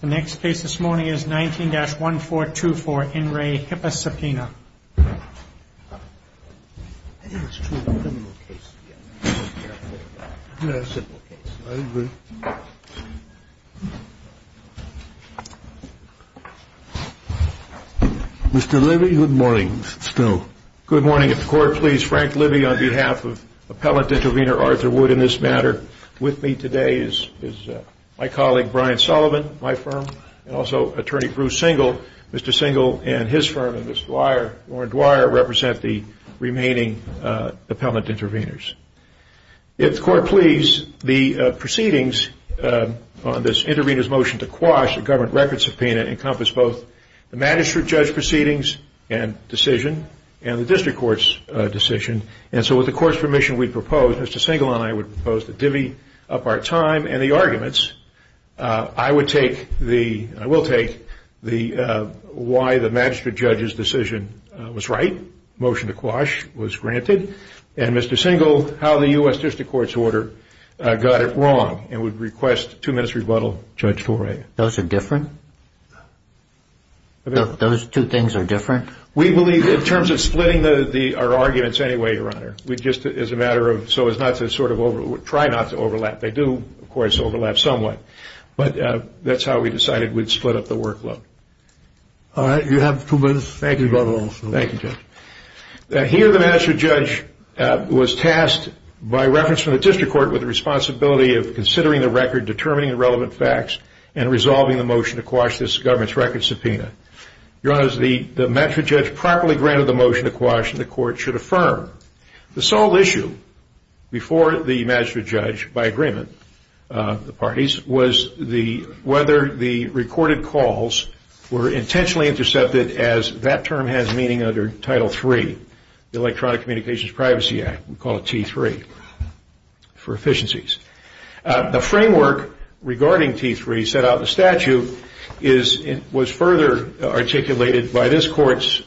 The next case this morning is 19-1424 In Re. HIPAA Subpoena. Mr. Libby, good morning. Mr. Stone. Good morning. If the Court please, Frank Libby on behalf of Appellant Intervenor Arthur Wood in this matter. With me today is my colleague Brian Sullivan, my firm, and also Attorney Bruce Singel. Mr. Singel and his firm and Ms. Warren Dwyer represent the remaining appellant intervenors. If the Court please, the proceedings on this intervenor's motion to quash the government record subpoena encompass both the magistrate judge proceedings and decision and the district court's decision. With the Court's permission, Mr. Singel and I would propose to divvy up our time and the arguments. I will take why the magistrate judge's decision was right, motion to quash was granted, and Mr. Singel, how the U.S. district court's order got it wrong, and would request two minutes' rebuttal. Those are different? Those two things are different? We believe in terms of splitting our arguments anyway, Your Honor. We just, as a matter of, so as not to sort of over, try not to overlap. They do, of course, overlap somewhat, but that's how we decided we'd split up the workload. All right, you have two minutes. Thank you very much. Thank you, Judge. Here the magistrate judge was tasked by reference from the district court with the responsibility of considering the record, determining the relevant facts, and resolving the motion to quash this government's record subpoena. Your Honor, the magistrate judge properly granted the motion to quash, and the court should affirm. The sole issue before the magistrate judge, by agreement of the parties, was whether the recorded calls were intentionally intercepted as that term has meaning under Title III, the Electronic Communications Privacy Act, we call it T3, for efficiencies. The framework regarding T3 set out in the statute was further articulated by this court's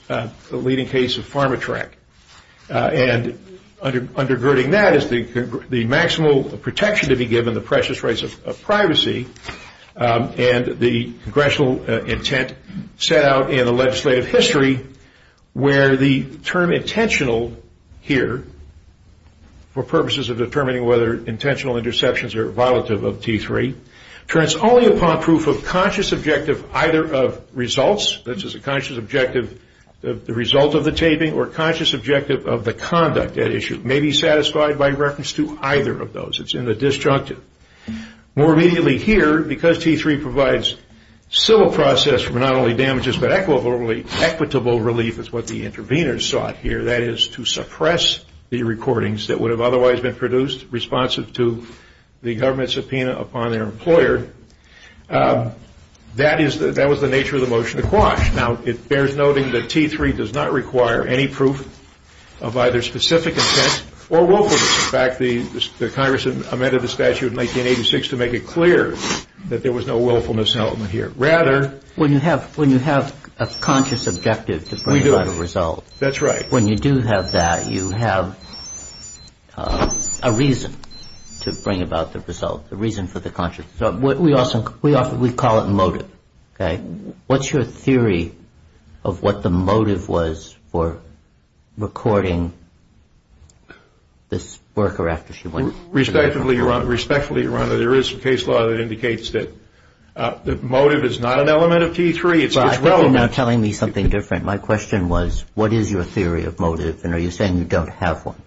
leading case of PharmaTrack. And undergirding that is the maximal protection to be given, the precious rights of privacy, and the congressional intent set out in the legislative history where the term intentional here, for purposes of determining whether intentional interceptions are violative of T3, turns only upon proof of conscious objective either of results, this is a conscious objective of the result of the taping, or conscious objective of the conduct at issue, may be satisfied by reference to either of those. It's in the disjunctive. More immediately here, because T3 provides civil process for not only damages, but equitable relief is what the intervenors sought here, that is to suppress the recordings that would have otherwise been produced responsive to the government's subpoena upon their employer. That was the nature of the motion to quash. Now it bears noting that T3 does not require any proof of either specific intent or willfulness. In fact, the Congress amended the statute in 1986 to make it clear that there was no willfulness element here. When you have a conscious objective to bring about a result, when you do have that, you have a reason to bring about the result, a reason for the conscious. We call it motive. What's your theory of what the motive was for recording this worker after she went? Respectfully, Your Honor, there is some case law that indicates that motive is not an element of T3. It's relevant. You're now telling me something different. My question was, what is your theory of motive? And are you saying you don't have one?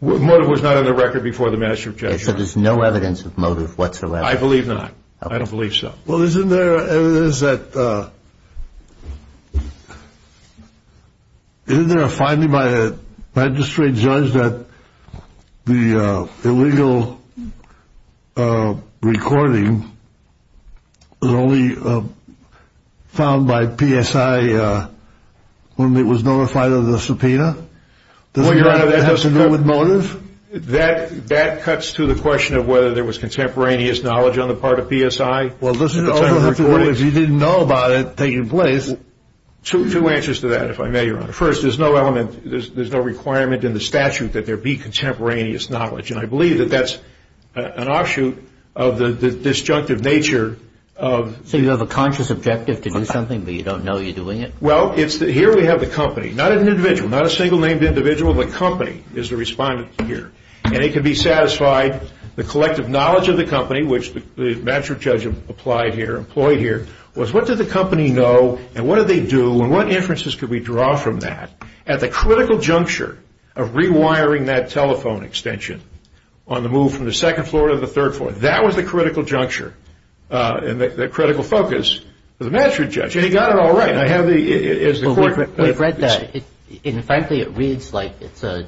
Motive was not on the record before the master objection. So there's no evidence of motive whatsoever? I believe not. I don't believe so. Well, isn't there evidence that, isn't there a finding by a magistrate judge that the illegal recording was only found by PSI when it was notified of the subpoena? Does it have to do with motive? That cuts to the question of whether there was contemporaneous knowledge on the part of PSI. Well, this is only recorded if you didn't know about it taking place. Two answers to that, if I may, Your Honor. First, there's no element, there's no requirement in the statute that there be contemporaneous knowledge. And I believe that that's an offshoot of the disjunctive nature of So you have a conscious objective to do something, but you don't know you're doing it? Well, here we have the company. Not an individual, not a single named individual. The company is the respondent here. And it could be satisfied, the collective knowledge of the company, which the magistrate judge applied here, employed here, was what did the company know and what did they do and what inferences could we draw from that at the critical juncture of rewiring that telephone extension on the move from the second floor to the third floor. That was the critical juncture and the critical focus for the magistrate judge. And he got it all right. Well, we've read that. And frankly, it reads like it's a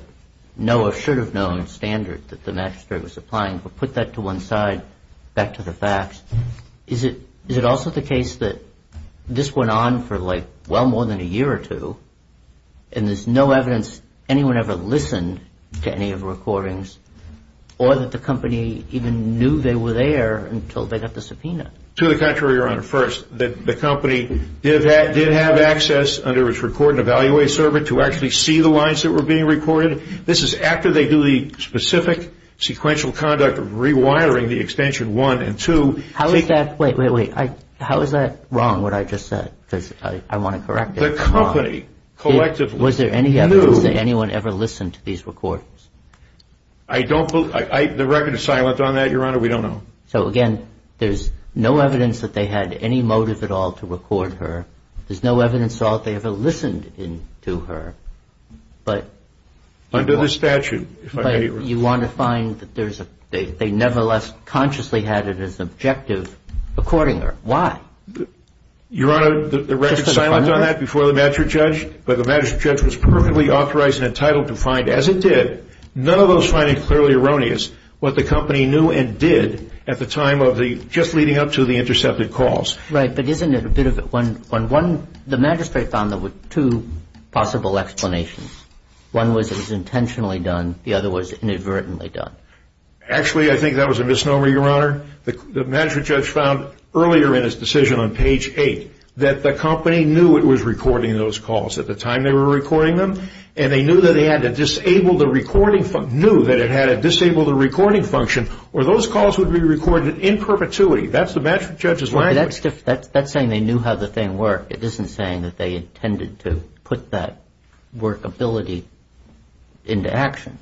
no or should have known standard that the magistrate was applying. But put that to one side, back to the facts. Is it also the case that this went on for like well more than a year or two and there's no evidence anyone ever listened to any of the recordings or that the company even knew they were there until they got the subpoena? To the contrary, Your Honor. First, the company did have access under its record and evaluate server to actually see the lines that were being recorded. This is after they do the specific sequential conduct of rewiring the extension 1 and 2. How is that? Wait, wait, wait. How is that wrong what I just said? Because I want to correct it. The company collectively knew. Was there any evidence that anyone ever listened to these recordings? I don't believe. The record is silent on that, Your Honor. We don't know. So, again, there's no evidence that they had any motive at all to record her. There's no evidence at all that they ever listened to her. Under the statute. But you want to find that they nevertheless consciously had it as objective recording her. Why? Your Honor, the record is silent on that before the magistrate judge, but the magistrate judge was perfectly authorized and entitled to find, as it did, none of those finding clearly erroneous what the company knew and did at the time of the just leading up to the intercepted calls. Right, but isn't it a bit of a one-on-one? The magistrate found there were two possible explanations. One was it was intentionally done. The other was inadvertently done. Actually, I think that was a misnomer, Your Honor. The magistrate judge found earlier in his decision on page 8 that the company knew it was recording those calls at the time they were recording them, and they knew that it had a disable the recording function, or those calls would be recorded in perpetuity. That's the magistrate judge's language. That's saying they knew how the thing worked. It isn't saying that they intended to put that workability into action.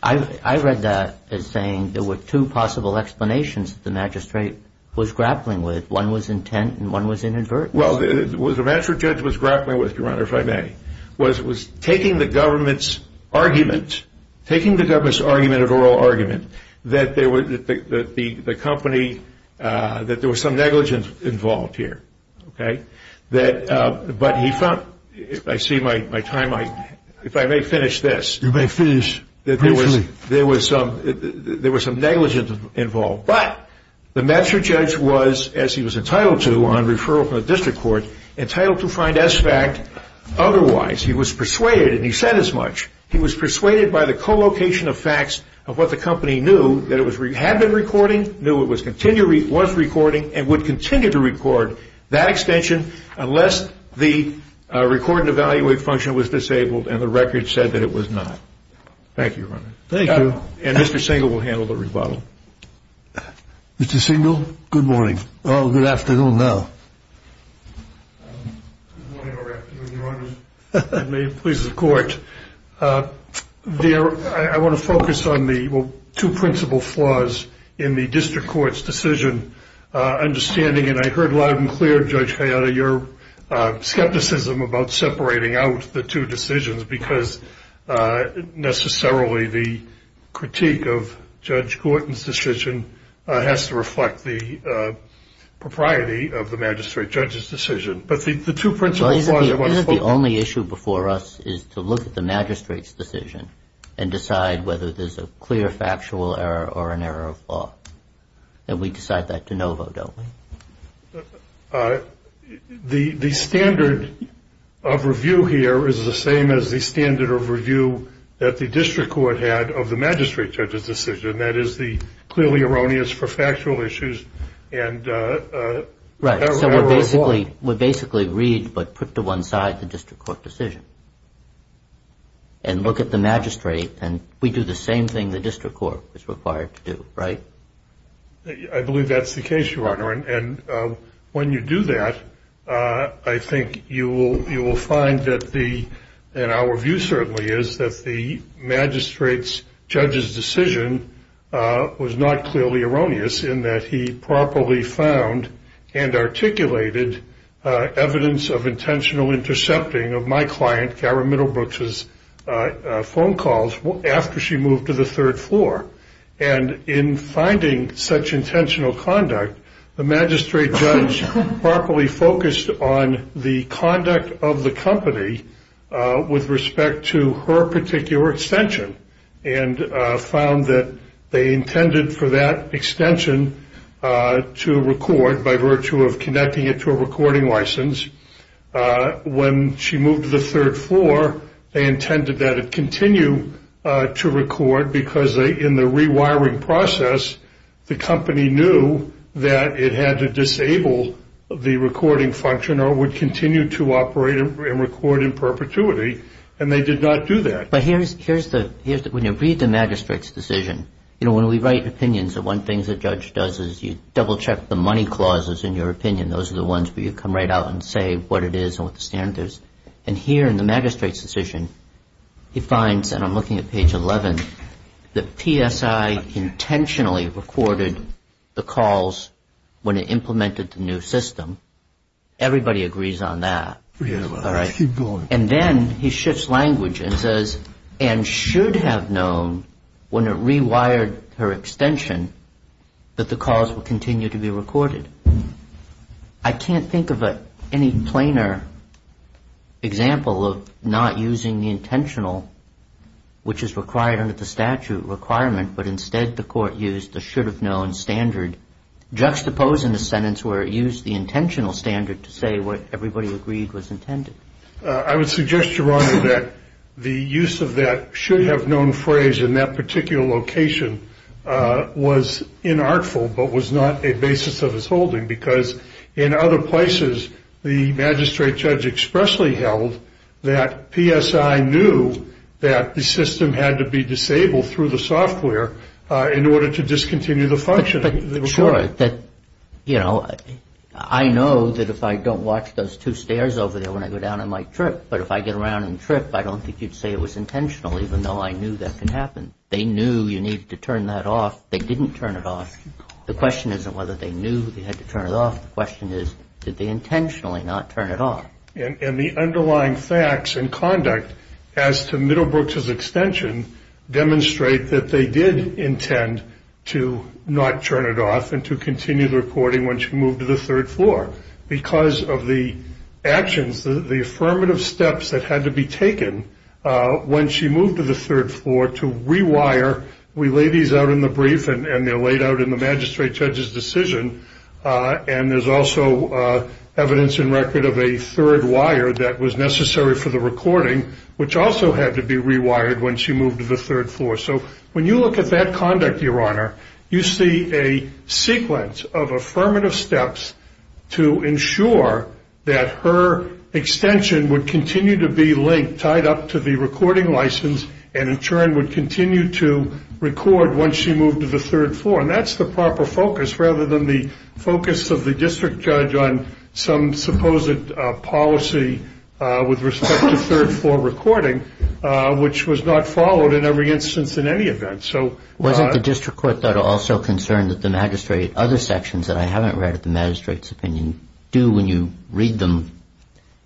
I read that as saying there were two possible explanations the magistrate was grappling with. One was intent and one was inadvertently. Well, the magistrate judge was grappling with, Your Honor, if I may. It was taking the government's argument at oral argument that there was some negligence involved here. But he found, if I see my time, if I may finish this. You may finish briefly. There was some negligence involved. But the magistrate judge was, as he was entitled to on referral from the district court, entitled to find S fact. Otherwise, he was persuaded, and he said as much, he was persuaded by the co-location of facts of what the company knew, that it had been recording, knew it was recording, and would continue to record that extension unless the record and evaluate function was disabled and the record said that it was not. Thank you, Your Honor. Thank you. And Mr. Singel will handle the rebuttal. Mr. Singel, good morning. Oh, good afternoon now. Good morning, Your Honor. May it please the court. I want to focus on the two principal flaws in the district court's decision. Understanding, and I heard loud and clear, Judge Hayata, your skepticism about separating out the two decisions because necessarily the critique of Judge Gorton's decision has to reflect the propriety of the magistrate judge's decision. But the two principal flaws I want to focus on. Isn't the only issue before us is to look at the magistrate's decision and decide whether there's a clear factual error or an error of law? And we decide that de novo, don't we? The standard of review here is the same as the standard of review that the district court had of the magistrate judge's decision. And that is the clearly erroneous for factual issues and error of law. Right, so we basically read but put to one side the district court decision. And look at the magistrate and we do the same thing the district court is required to do, right? I believe that's the case, Your Honor. And when you do that, I think you will find that the, and our view certainly is that the magistrate's judge's decision was not clearly erroneous in that he properly found and articulated evidence of intentional intercepting of my client, Kara Middlebrooks' phone calls after she moved to the third floor. And in finding such intentional conduct, the magistrate judge properly focused on the conduct of the company with respect to her particular extension. And found that they intended for that extension to record by virtue of connecting it to a recording license. When she moved to the third floor, they intended that it continue to record because in the rewiring process, the company knew that it had to disable the recording function or it would continue to operate and record in perpetuity. And they did not do that. But here's the, when you read the magistrate's decision, you know, when we write opinions, the one thing the judge does is you double check the money clauses in your opinion. Those are the ones where you come right out and say what it is and what the standard is. And here in the magistrate's decision, he finds, and I'm looking at page 11, that PSI intentionally recorded the calls when it implemented the new system. Everybody agrees on that. All right. And then he shifts language and says and should have known when it rewired her extension that the calls would continue to be recorded. I can't think of any plainer example of not using the intentional, which is required under the statute requirement, but instead the court used the should have known standard, juxtaposing the sentence where it used the intentional standard to say what everybody agreed was intended. I would suggest, Your Honor, that the use of that should have known phrase in that particular location was inartful but was not a basis of his holding because in other places, the magistrate judge expressly held that PSI knew that the system had to be disabled through the software in order to discontinue the function. Sure. You know, I know that if I don't watch those two stairs over there when I go down, I might trip, but if I get around and trip, I don't think you'd say it was intentional even though I knew that could happen. They knew you needed to turn that off. They didn't turn it off. The question isn't whether they knew they had to turn it off. The question is did they intentionally not turn it off. And the underlying facts and conduct as to Middlebrook's extension demonstrate that they did intend to not turn it off and to continue the recording when she moved to the third floor because of the actions, the affirmative steps that had to be taken when she moved to the third floor to rewire. We lay these out in the brief and they're laid out in the magistrate judge's decision. And there's also evidence in record of a third wire that was necessary for the recording which also had to be rewired when she moved to the third floor. So when you look at that conduct, Your Honor, you see a sequence of affirmative steps to ensure that her extension would continue to be linked, tied up to the recording license and in turn would continue to record once she moved to the third floor. And that's the proper focus rather than the focus of the district judge on some supposed policy with respect to third floor recording which was not followed in every instance in any event. Wasn't the district court also concerned that the magistrate, other sections that I haven't read of the magistrate's opinion, do when you read them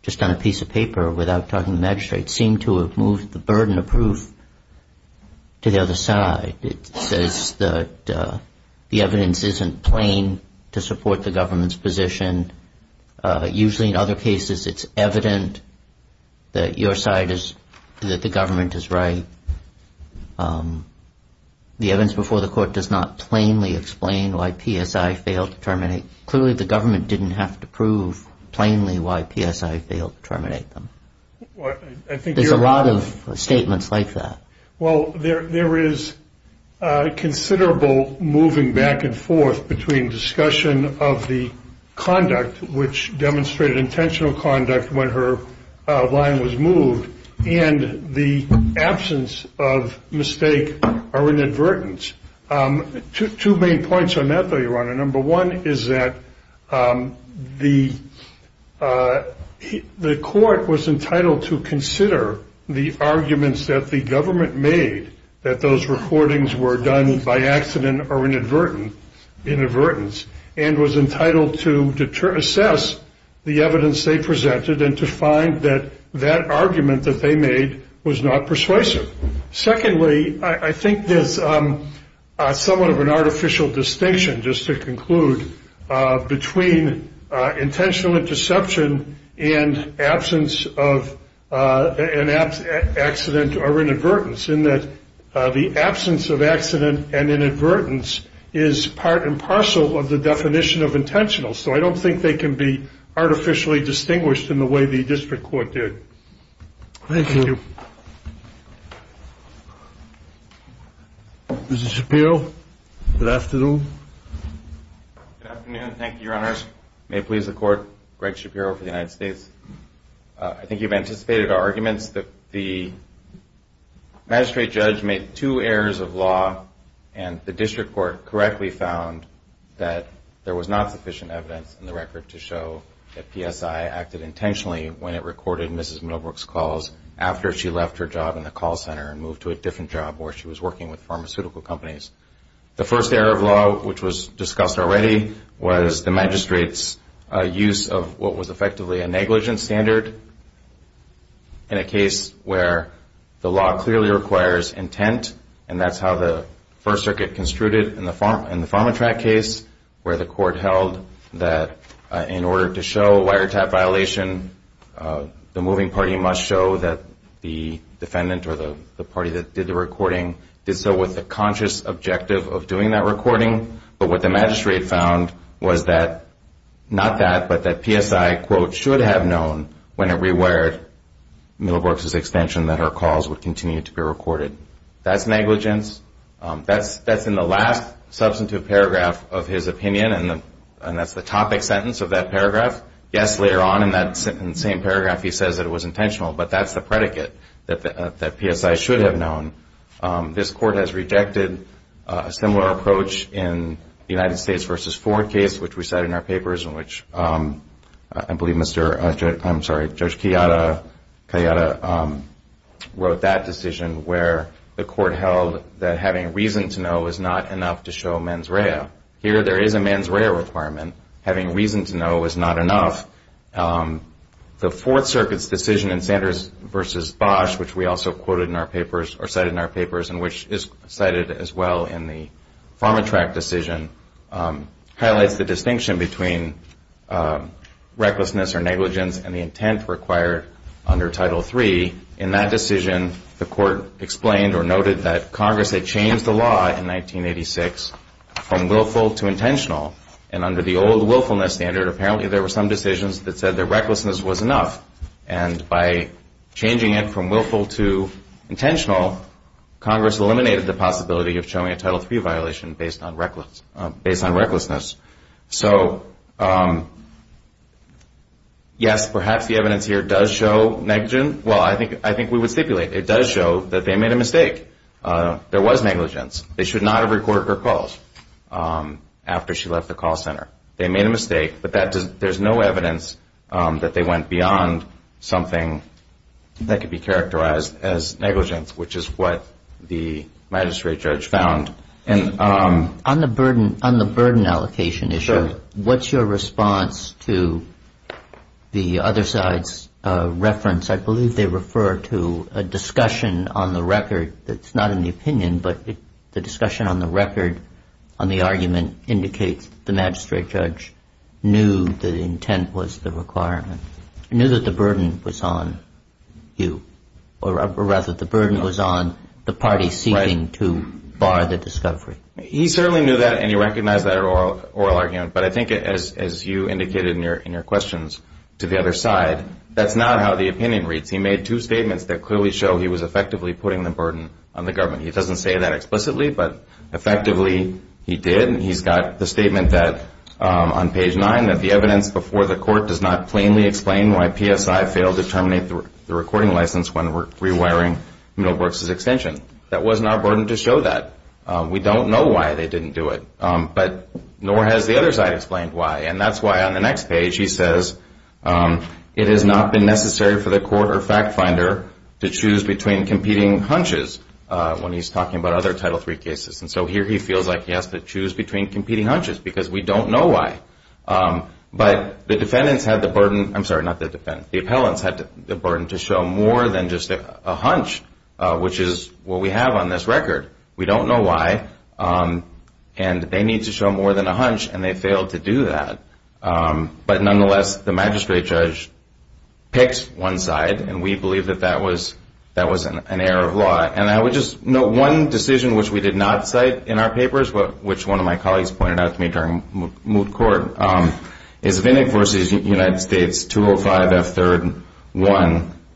just on a piece of paper without talking to the magistrate, seem to have moved the burden of proof to the other side. It says that the evidence isn't plain to support the government's position. Usually in other cases it's evident that your side is, that the government is right. The evidence before the court does not plainly explain why PSI failed to terminate. Clearly the government didn't have to prove plainly why PSI failed to terminate them. There's a lot of statements like that. Well, there is considerable moving back and forth between discussion of the conduct which demonstrated intentional conduct when her line was moved and the absence of mistake or inadvertence. Number one is that the court was entitled to consider the arguments that the government made that those recordings were done by accident or inadvertently, and was entitled to assess the evidence they presented and to find that that argument that they made was not persuasive. Secondly, I think there's somewhat of an artificial distinction, just to conclude, between intentional interception and absence of accident or inadvertence, in that the absence of accident and inadvertence is part and parcel of the definition of intentional. So I don't think they can be artificially distinguished in the way the district court did. Thank you. Mr. Shapiro, good afternoon. Good afternoon. Thank you, Your Honors. May it please the court, Greg Shapiro for the United States. I think you've anticipated our arguments that the magistrate judge made two errors of law and the district court correctly found that there was not sufficient evidence in the record to show that PSI acted intentionally when it recorded Mrs. Middlebrook's calls after she left her job in the call center and moved to a different job where she was working with pharmaceutical companies. The first error of law, which was discussed already, was the magistrate's use of what was effectively a negligence standard in a case where the law clearly requires intent, and that's how the First Circuit construed it in the PharmaTrac case, where the court held that in order to show wiretap violation, the moving party must show that the defendant or the party that did the recording did so with the conscious objective of doing that recording. But what the magistrate found was that, not that, but that PSI, quote, should have known when it rewired Middlebrook's extension that her calls would continue to be recorded. That's negligence. That's in the last substantive paragraph of his opinion, and that's the topic sentence of that paragraph. Yes, later on in that same paragraph, he says that it was intentional, but that's the predicate that PSI should have known. This court has rejected a similar approach in the United States v. Ford case, which we cite in our papers and which I believe Mr. — I'm sorry, Judge Kayada wrote that decision where the court held that having reason to know is not enough to show mens rea. Here, there is a mens rea requirement. Having reason to know is not enough. The Fourth Circuit's decision in Sanders v. Bosch, which we also quoted in our papers or cited in our papers and which is cited as well in the PharmaTrac decision, highlights the distinction between recklessness or negligence and the intent required under Title III. In that decision, the court explained or noted that Congress had changed the law in 1986 from willful to intentional. And under the old willfulness standard, apparently there were some decisions that said that recklessness was enough. And by changing it from willful to intentional, Congress eliminated the possibility of showing a Title III violation based on recklessness. So, yes, perhaps the evidence here does show negligence. Well, I think we would stipulate it does show that they made a mistake. There was negligence. They should not have recorded her calls after she left the call center. They made a mistake, but there's no evidence that they went beyond something that could be characterized as negligence, which is what the magistrate judge found. On the burden allocation issue, what's your response to the other side's reference? I believe they refer to a discussion on the record that's not in the opinion, but the discussion on the record on the argument indicates the magistrate judge knew that intent was the requirement, knew that the burden was on you, or rather the burden was on the party seeking to bar the discovery. He certainly knew that, and he recognized that oral argument. But I think as you indicated in your questions to the other side, that's not how the opinion reads. He made two statements that clearly show he was effectively putting the burden on the government. He doesn't say that explicitly, but effectively he did. He's got the statement on page 9 that the evidence before the court does not plainly explain why PSI failed to terminate the recording license when rewiring Milbrooks' extension. That wasn't our burden to show that. We don't know why they didn't do it, but nor has the other side explained why. And that's why on the next page he says, it has not been necessary for the court or fact finder to choose between competing hunches when he's talking about other Title III cases. And so here he feels like he has to choose between competing hunches because we don't know why. But the defendants had the burden, I'm sorry, not the defendants, the appellants had the burden to show more than just a hunch, which is what we have on this record. We don't know why, and they need to show more than a hunch, and they failed to do that. But nonetheless, the magistrate judge picked one side, and we believe that that was an error of law. And I would just note one decision which we did not cite in our papers, which one of my colleagues pointed out to me during moot court, is Vinnick v. United States 205F3-1.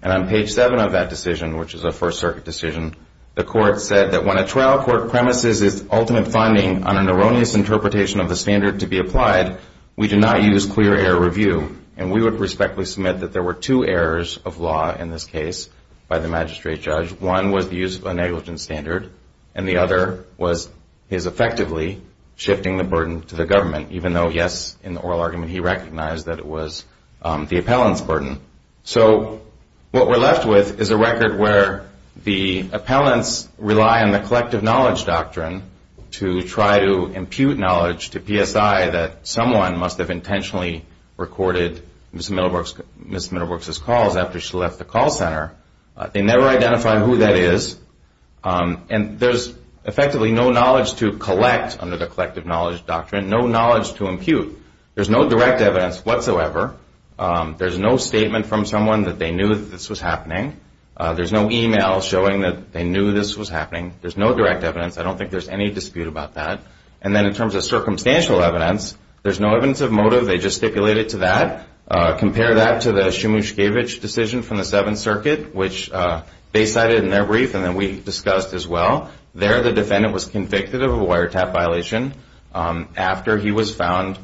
And on page 7 of that decision, which is a First Circuit decision, the court said that when a trial court premises its ultimate finding on an erroneous interpretation of the standard to be applied, we do not use clear error review. And we would respectfully submit that there were two errors of law in this case by the magistrate judge. One was the use of a negligence standard, and the other was his effectively shifting the burden to the government, even though, yes, in the oral argument he recognized that it was the appellant's burden. So what we're left with is a record where the appellants rely on the collective knowledge doctrine to try to impute knowledge to PSI that someone must have intentionally recorded Ms. Middlebrooks' calls after she left the call center. They never identify who that is, and there's effectively no knowledge to collect under the collective knowledge doctrine, no knowledge to impute. There's no direct evidence whatsoever. There's no statement from someone that they knew this was happening. There's no e-mail showing that they knew this was happening. There's no direct evidence. I don't think there's any dispute about that. And then in terms of circumstantial evidence, there's no evidence of motive. They just stipulate it to that. Compare that to the Shumushkevich decision from the Seventh Circuit, which they cited in their brief, and then we discussed as well. There the defendant was convicted of a wiretap violation after he was found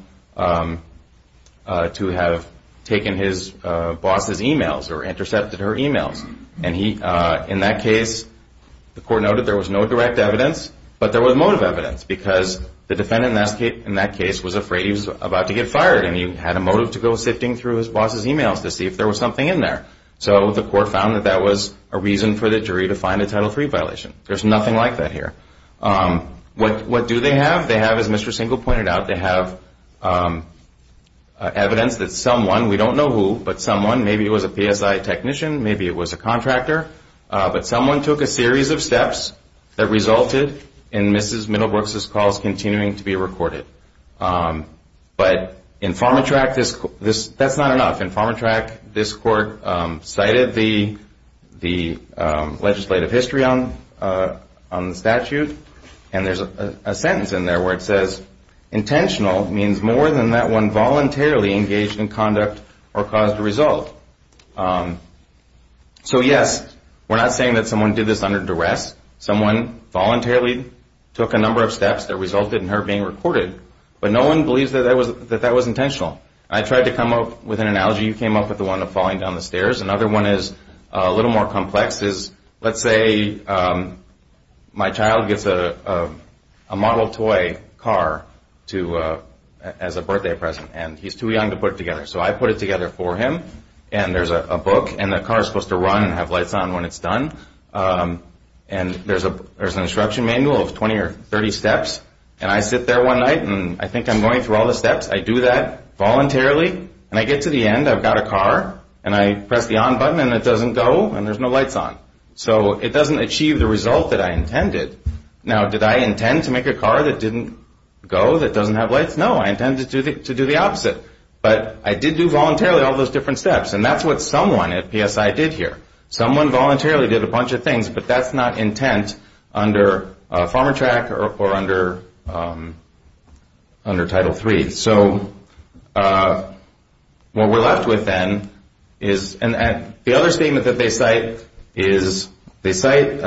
to have taken his boss's e-mails or intercepted her e-mails. And in that case, the court noted there was no direct evidence, but there was motive evidence because the defendant in that case was afraid he was about to get fired, and he had a motive to go sifting through his boss's e-mails to see if there was something in there. So the court found that that was a reason for the jury to find a Title III violation. There's nothing like that here. What do they have? They have, as Mr. Single pointed out, they have evidence that someone, we don't know who, but someone, maybe it was a PSI technician, maybe it was a contractor, but someone took a series of steps that resulted in Mrs. Middlebrooks' calls continuing to be recorded. But in PharmaTrack, that's not enough. In PharmaTrack, this court cited the legislative history on the statute, and there's a sentence in there where it says, intentional means more than that one voluntarily engaged in conduct or caused a result. So yes, we're not saying that someone did this under duress. Someone voluntarily took a number of steps that resulted in her being recorded, but no one believes that that was intentional. I tried to come up with an analogy. You came up with the one of falling down the stairs. Another one is a little more complex. Let's say my child gets a model toy car as a birthday present, and he's too young to put it together. So I put it together for him, and there's a book, and the car is supposed to run and have lights on when it's done, and there's an instruction manual of 20 or 30 steps, and I sit there one night, and I think I'm going through all the steps. I do that voluntarily, and I get to the end. I've got a car, and I press the on button, and it doesn't go, and there's no lights on. So it doesn't achieve the result that I intended. Now, did I intend to make a car that didn't go, that doesn't have lights? No, I intended to do the opposite. But I did do voluntarily all those different steps, and that's what someone at PSI did here. Someone voluntarily did a bunch of things, but that's not intent under FarmerTrack or under Title III. So what we're left with then is, and the other statement that they cite is, they cite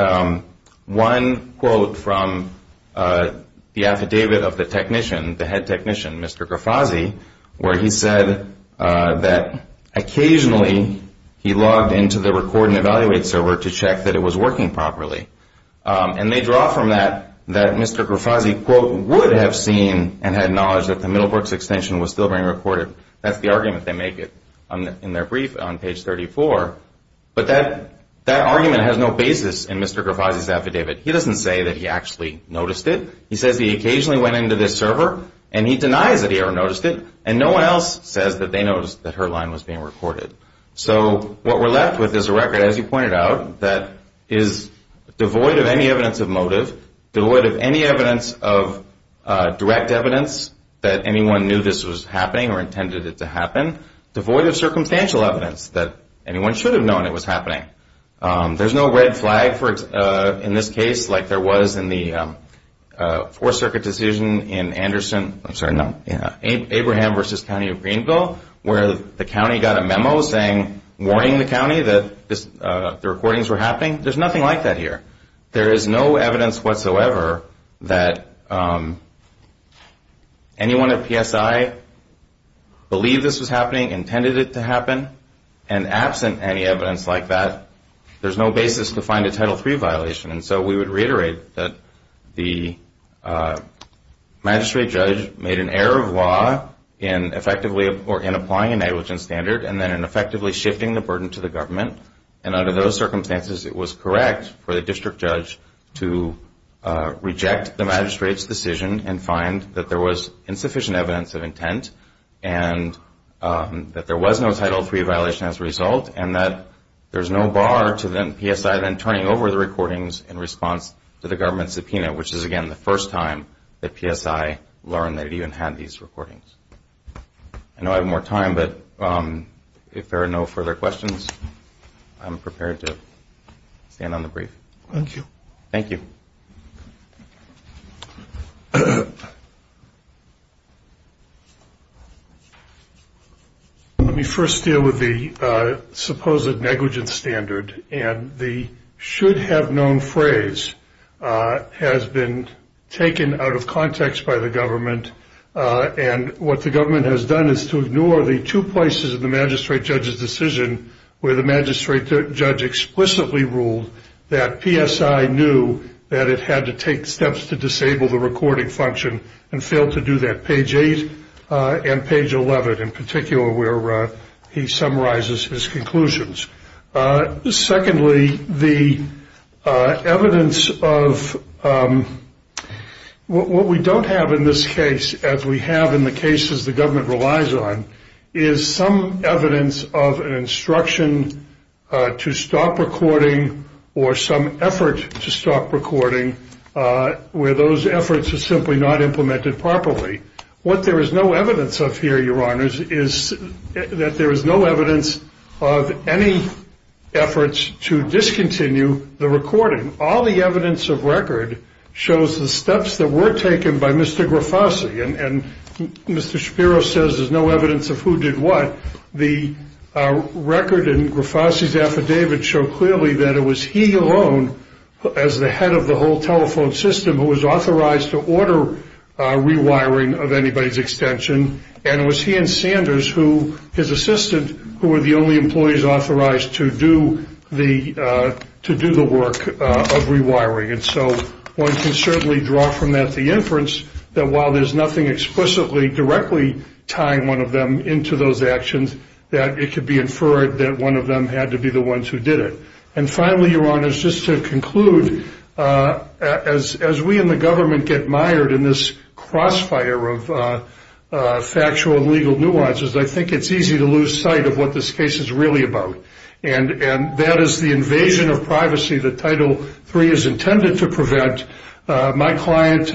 one quote from the affidavit of the technician, the head technician, Mr. Grafazi, where he said that occasionally he logged into the Record and Evaluate server to check that it was working properly. And they draw from that that Mr. Grafazi, quote, would have seen and had knowledge that the Middlebrooks extension was still being recorded. That's the argument they make in their brief on page 34. But that argument has no basis in Mr. Grafazi's affidavit. He doesn't say that he actually noticed it. He says he occasionally went into this server, and he denies that he ever noticed it, and no one else says that they noticed that her line was being recorded. So what we're left with is a record, as you pointed out, that is devoid of any evidence of motive, devoid of any evidence of direct evidence that anyone knew this was happening or intended it to happen, devoid of circumstantial evidence that anyone should have known it was happening. There's no red flag in this case like there was in the Fourth Circuit decision in Anderson, I'm sorry, no, Abraham v. County of Greenville, where the county got a memo saying, warning the county that the recordings were happening. There's nothing like that here. There is no evidence whatsoever that anyone at PSI believed this was happening, intended it to happen, and absent any evidence like that, there's no basis to find a Title III violation. And so we would reiterate that the magistrate judge made an error of law in effectively or in applying a negligence standard and then in effectively shifting the burden to the government. And under those circumstances, it was correct for the district judge to reject the magistrate's decision and find that there was insufficient evidence of intent and that there was no Title III violation as a result and that there's no bar to PSI then turning over the recordings in response to the government's subpoena, which is, again, the first time that PSI learned they even had these recordings. I know I have more time, but if there are no further questions, I'm prepared to stand on the brief. Thank you. Thank you. Let me first deal with the supposed negligence standard, and the should-have-known phrase has been taken out of context by the government. And what the government has done is to ignore the two places in the magistrate judge's decision where the magistrate judge explicitly ruled that PSI knew that it had to take steps to disable the recording function and failed to do that, page 8 and page 11 in particular, where he summarizes his conclusions. Secondly, the evidence of what we don't have in this case, as we have in the cases the government relies on, is some evidence of an instruction to stop recording or some effort to stop recording where those efforts are simply not implemented properly. What there is no evidence of here, Your Honors, is that there is no evidence of any efforts to discontinue the recording. All the evidence of record shows the steps that were taken by Mr. Grafasi, and Mr. Shapiro says there's no evidence of who did what. The record in Grafasi's affidavit showed clearly that it was he alone, as the head of the whole telephone system, who was authorized to order rewiring of anybody's extension, and it was he and Sanders, his assistant, who were the only employees authorized to do the work of rewiring. And so one can certainly draw from that the inference that while there's nothing explicitly directly tying one of them into those actions, that it could be inferred that one of them had to be the ones who did it. And finally, Your Honors, just to conclude, as we in the government get mired in this crossfire of factual and legal nuances, I think it's easy to lose sight of what this case is really about, and that is the invasion of privacy that Title III is intended to prevent. My client,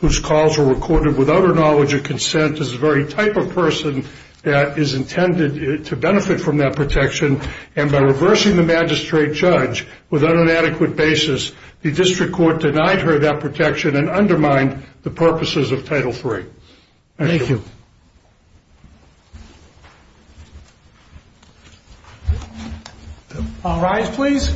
whose calls were recorded without her knowledge of consent, is the very type of person that is intended to benefit from that protection, and by reversing the magistrate judge without an adequate basis, the district court denied her that protection and undermined the purposes of Title III. Thank you. Thank you. All rise, please.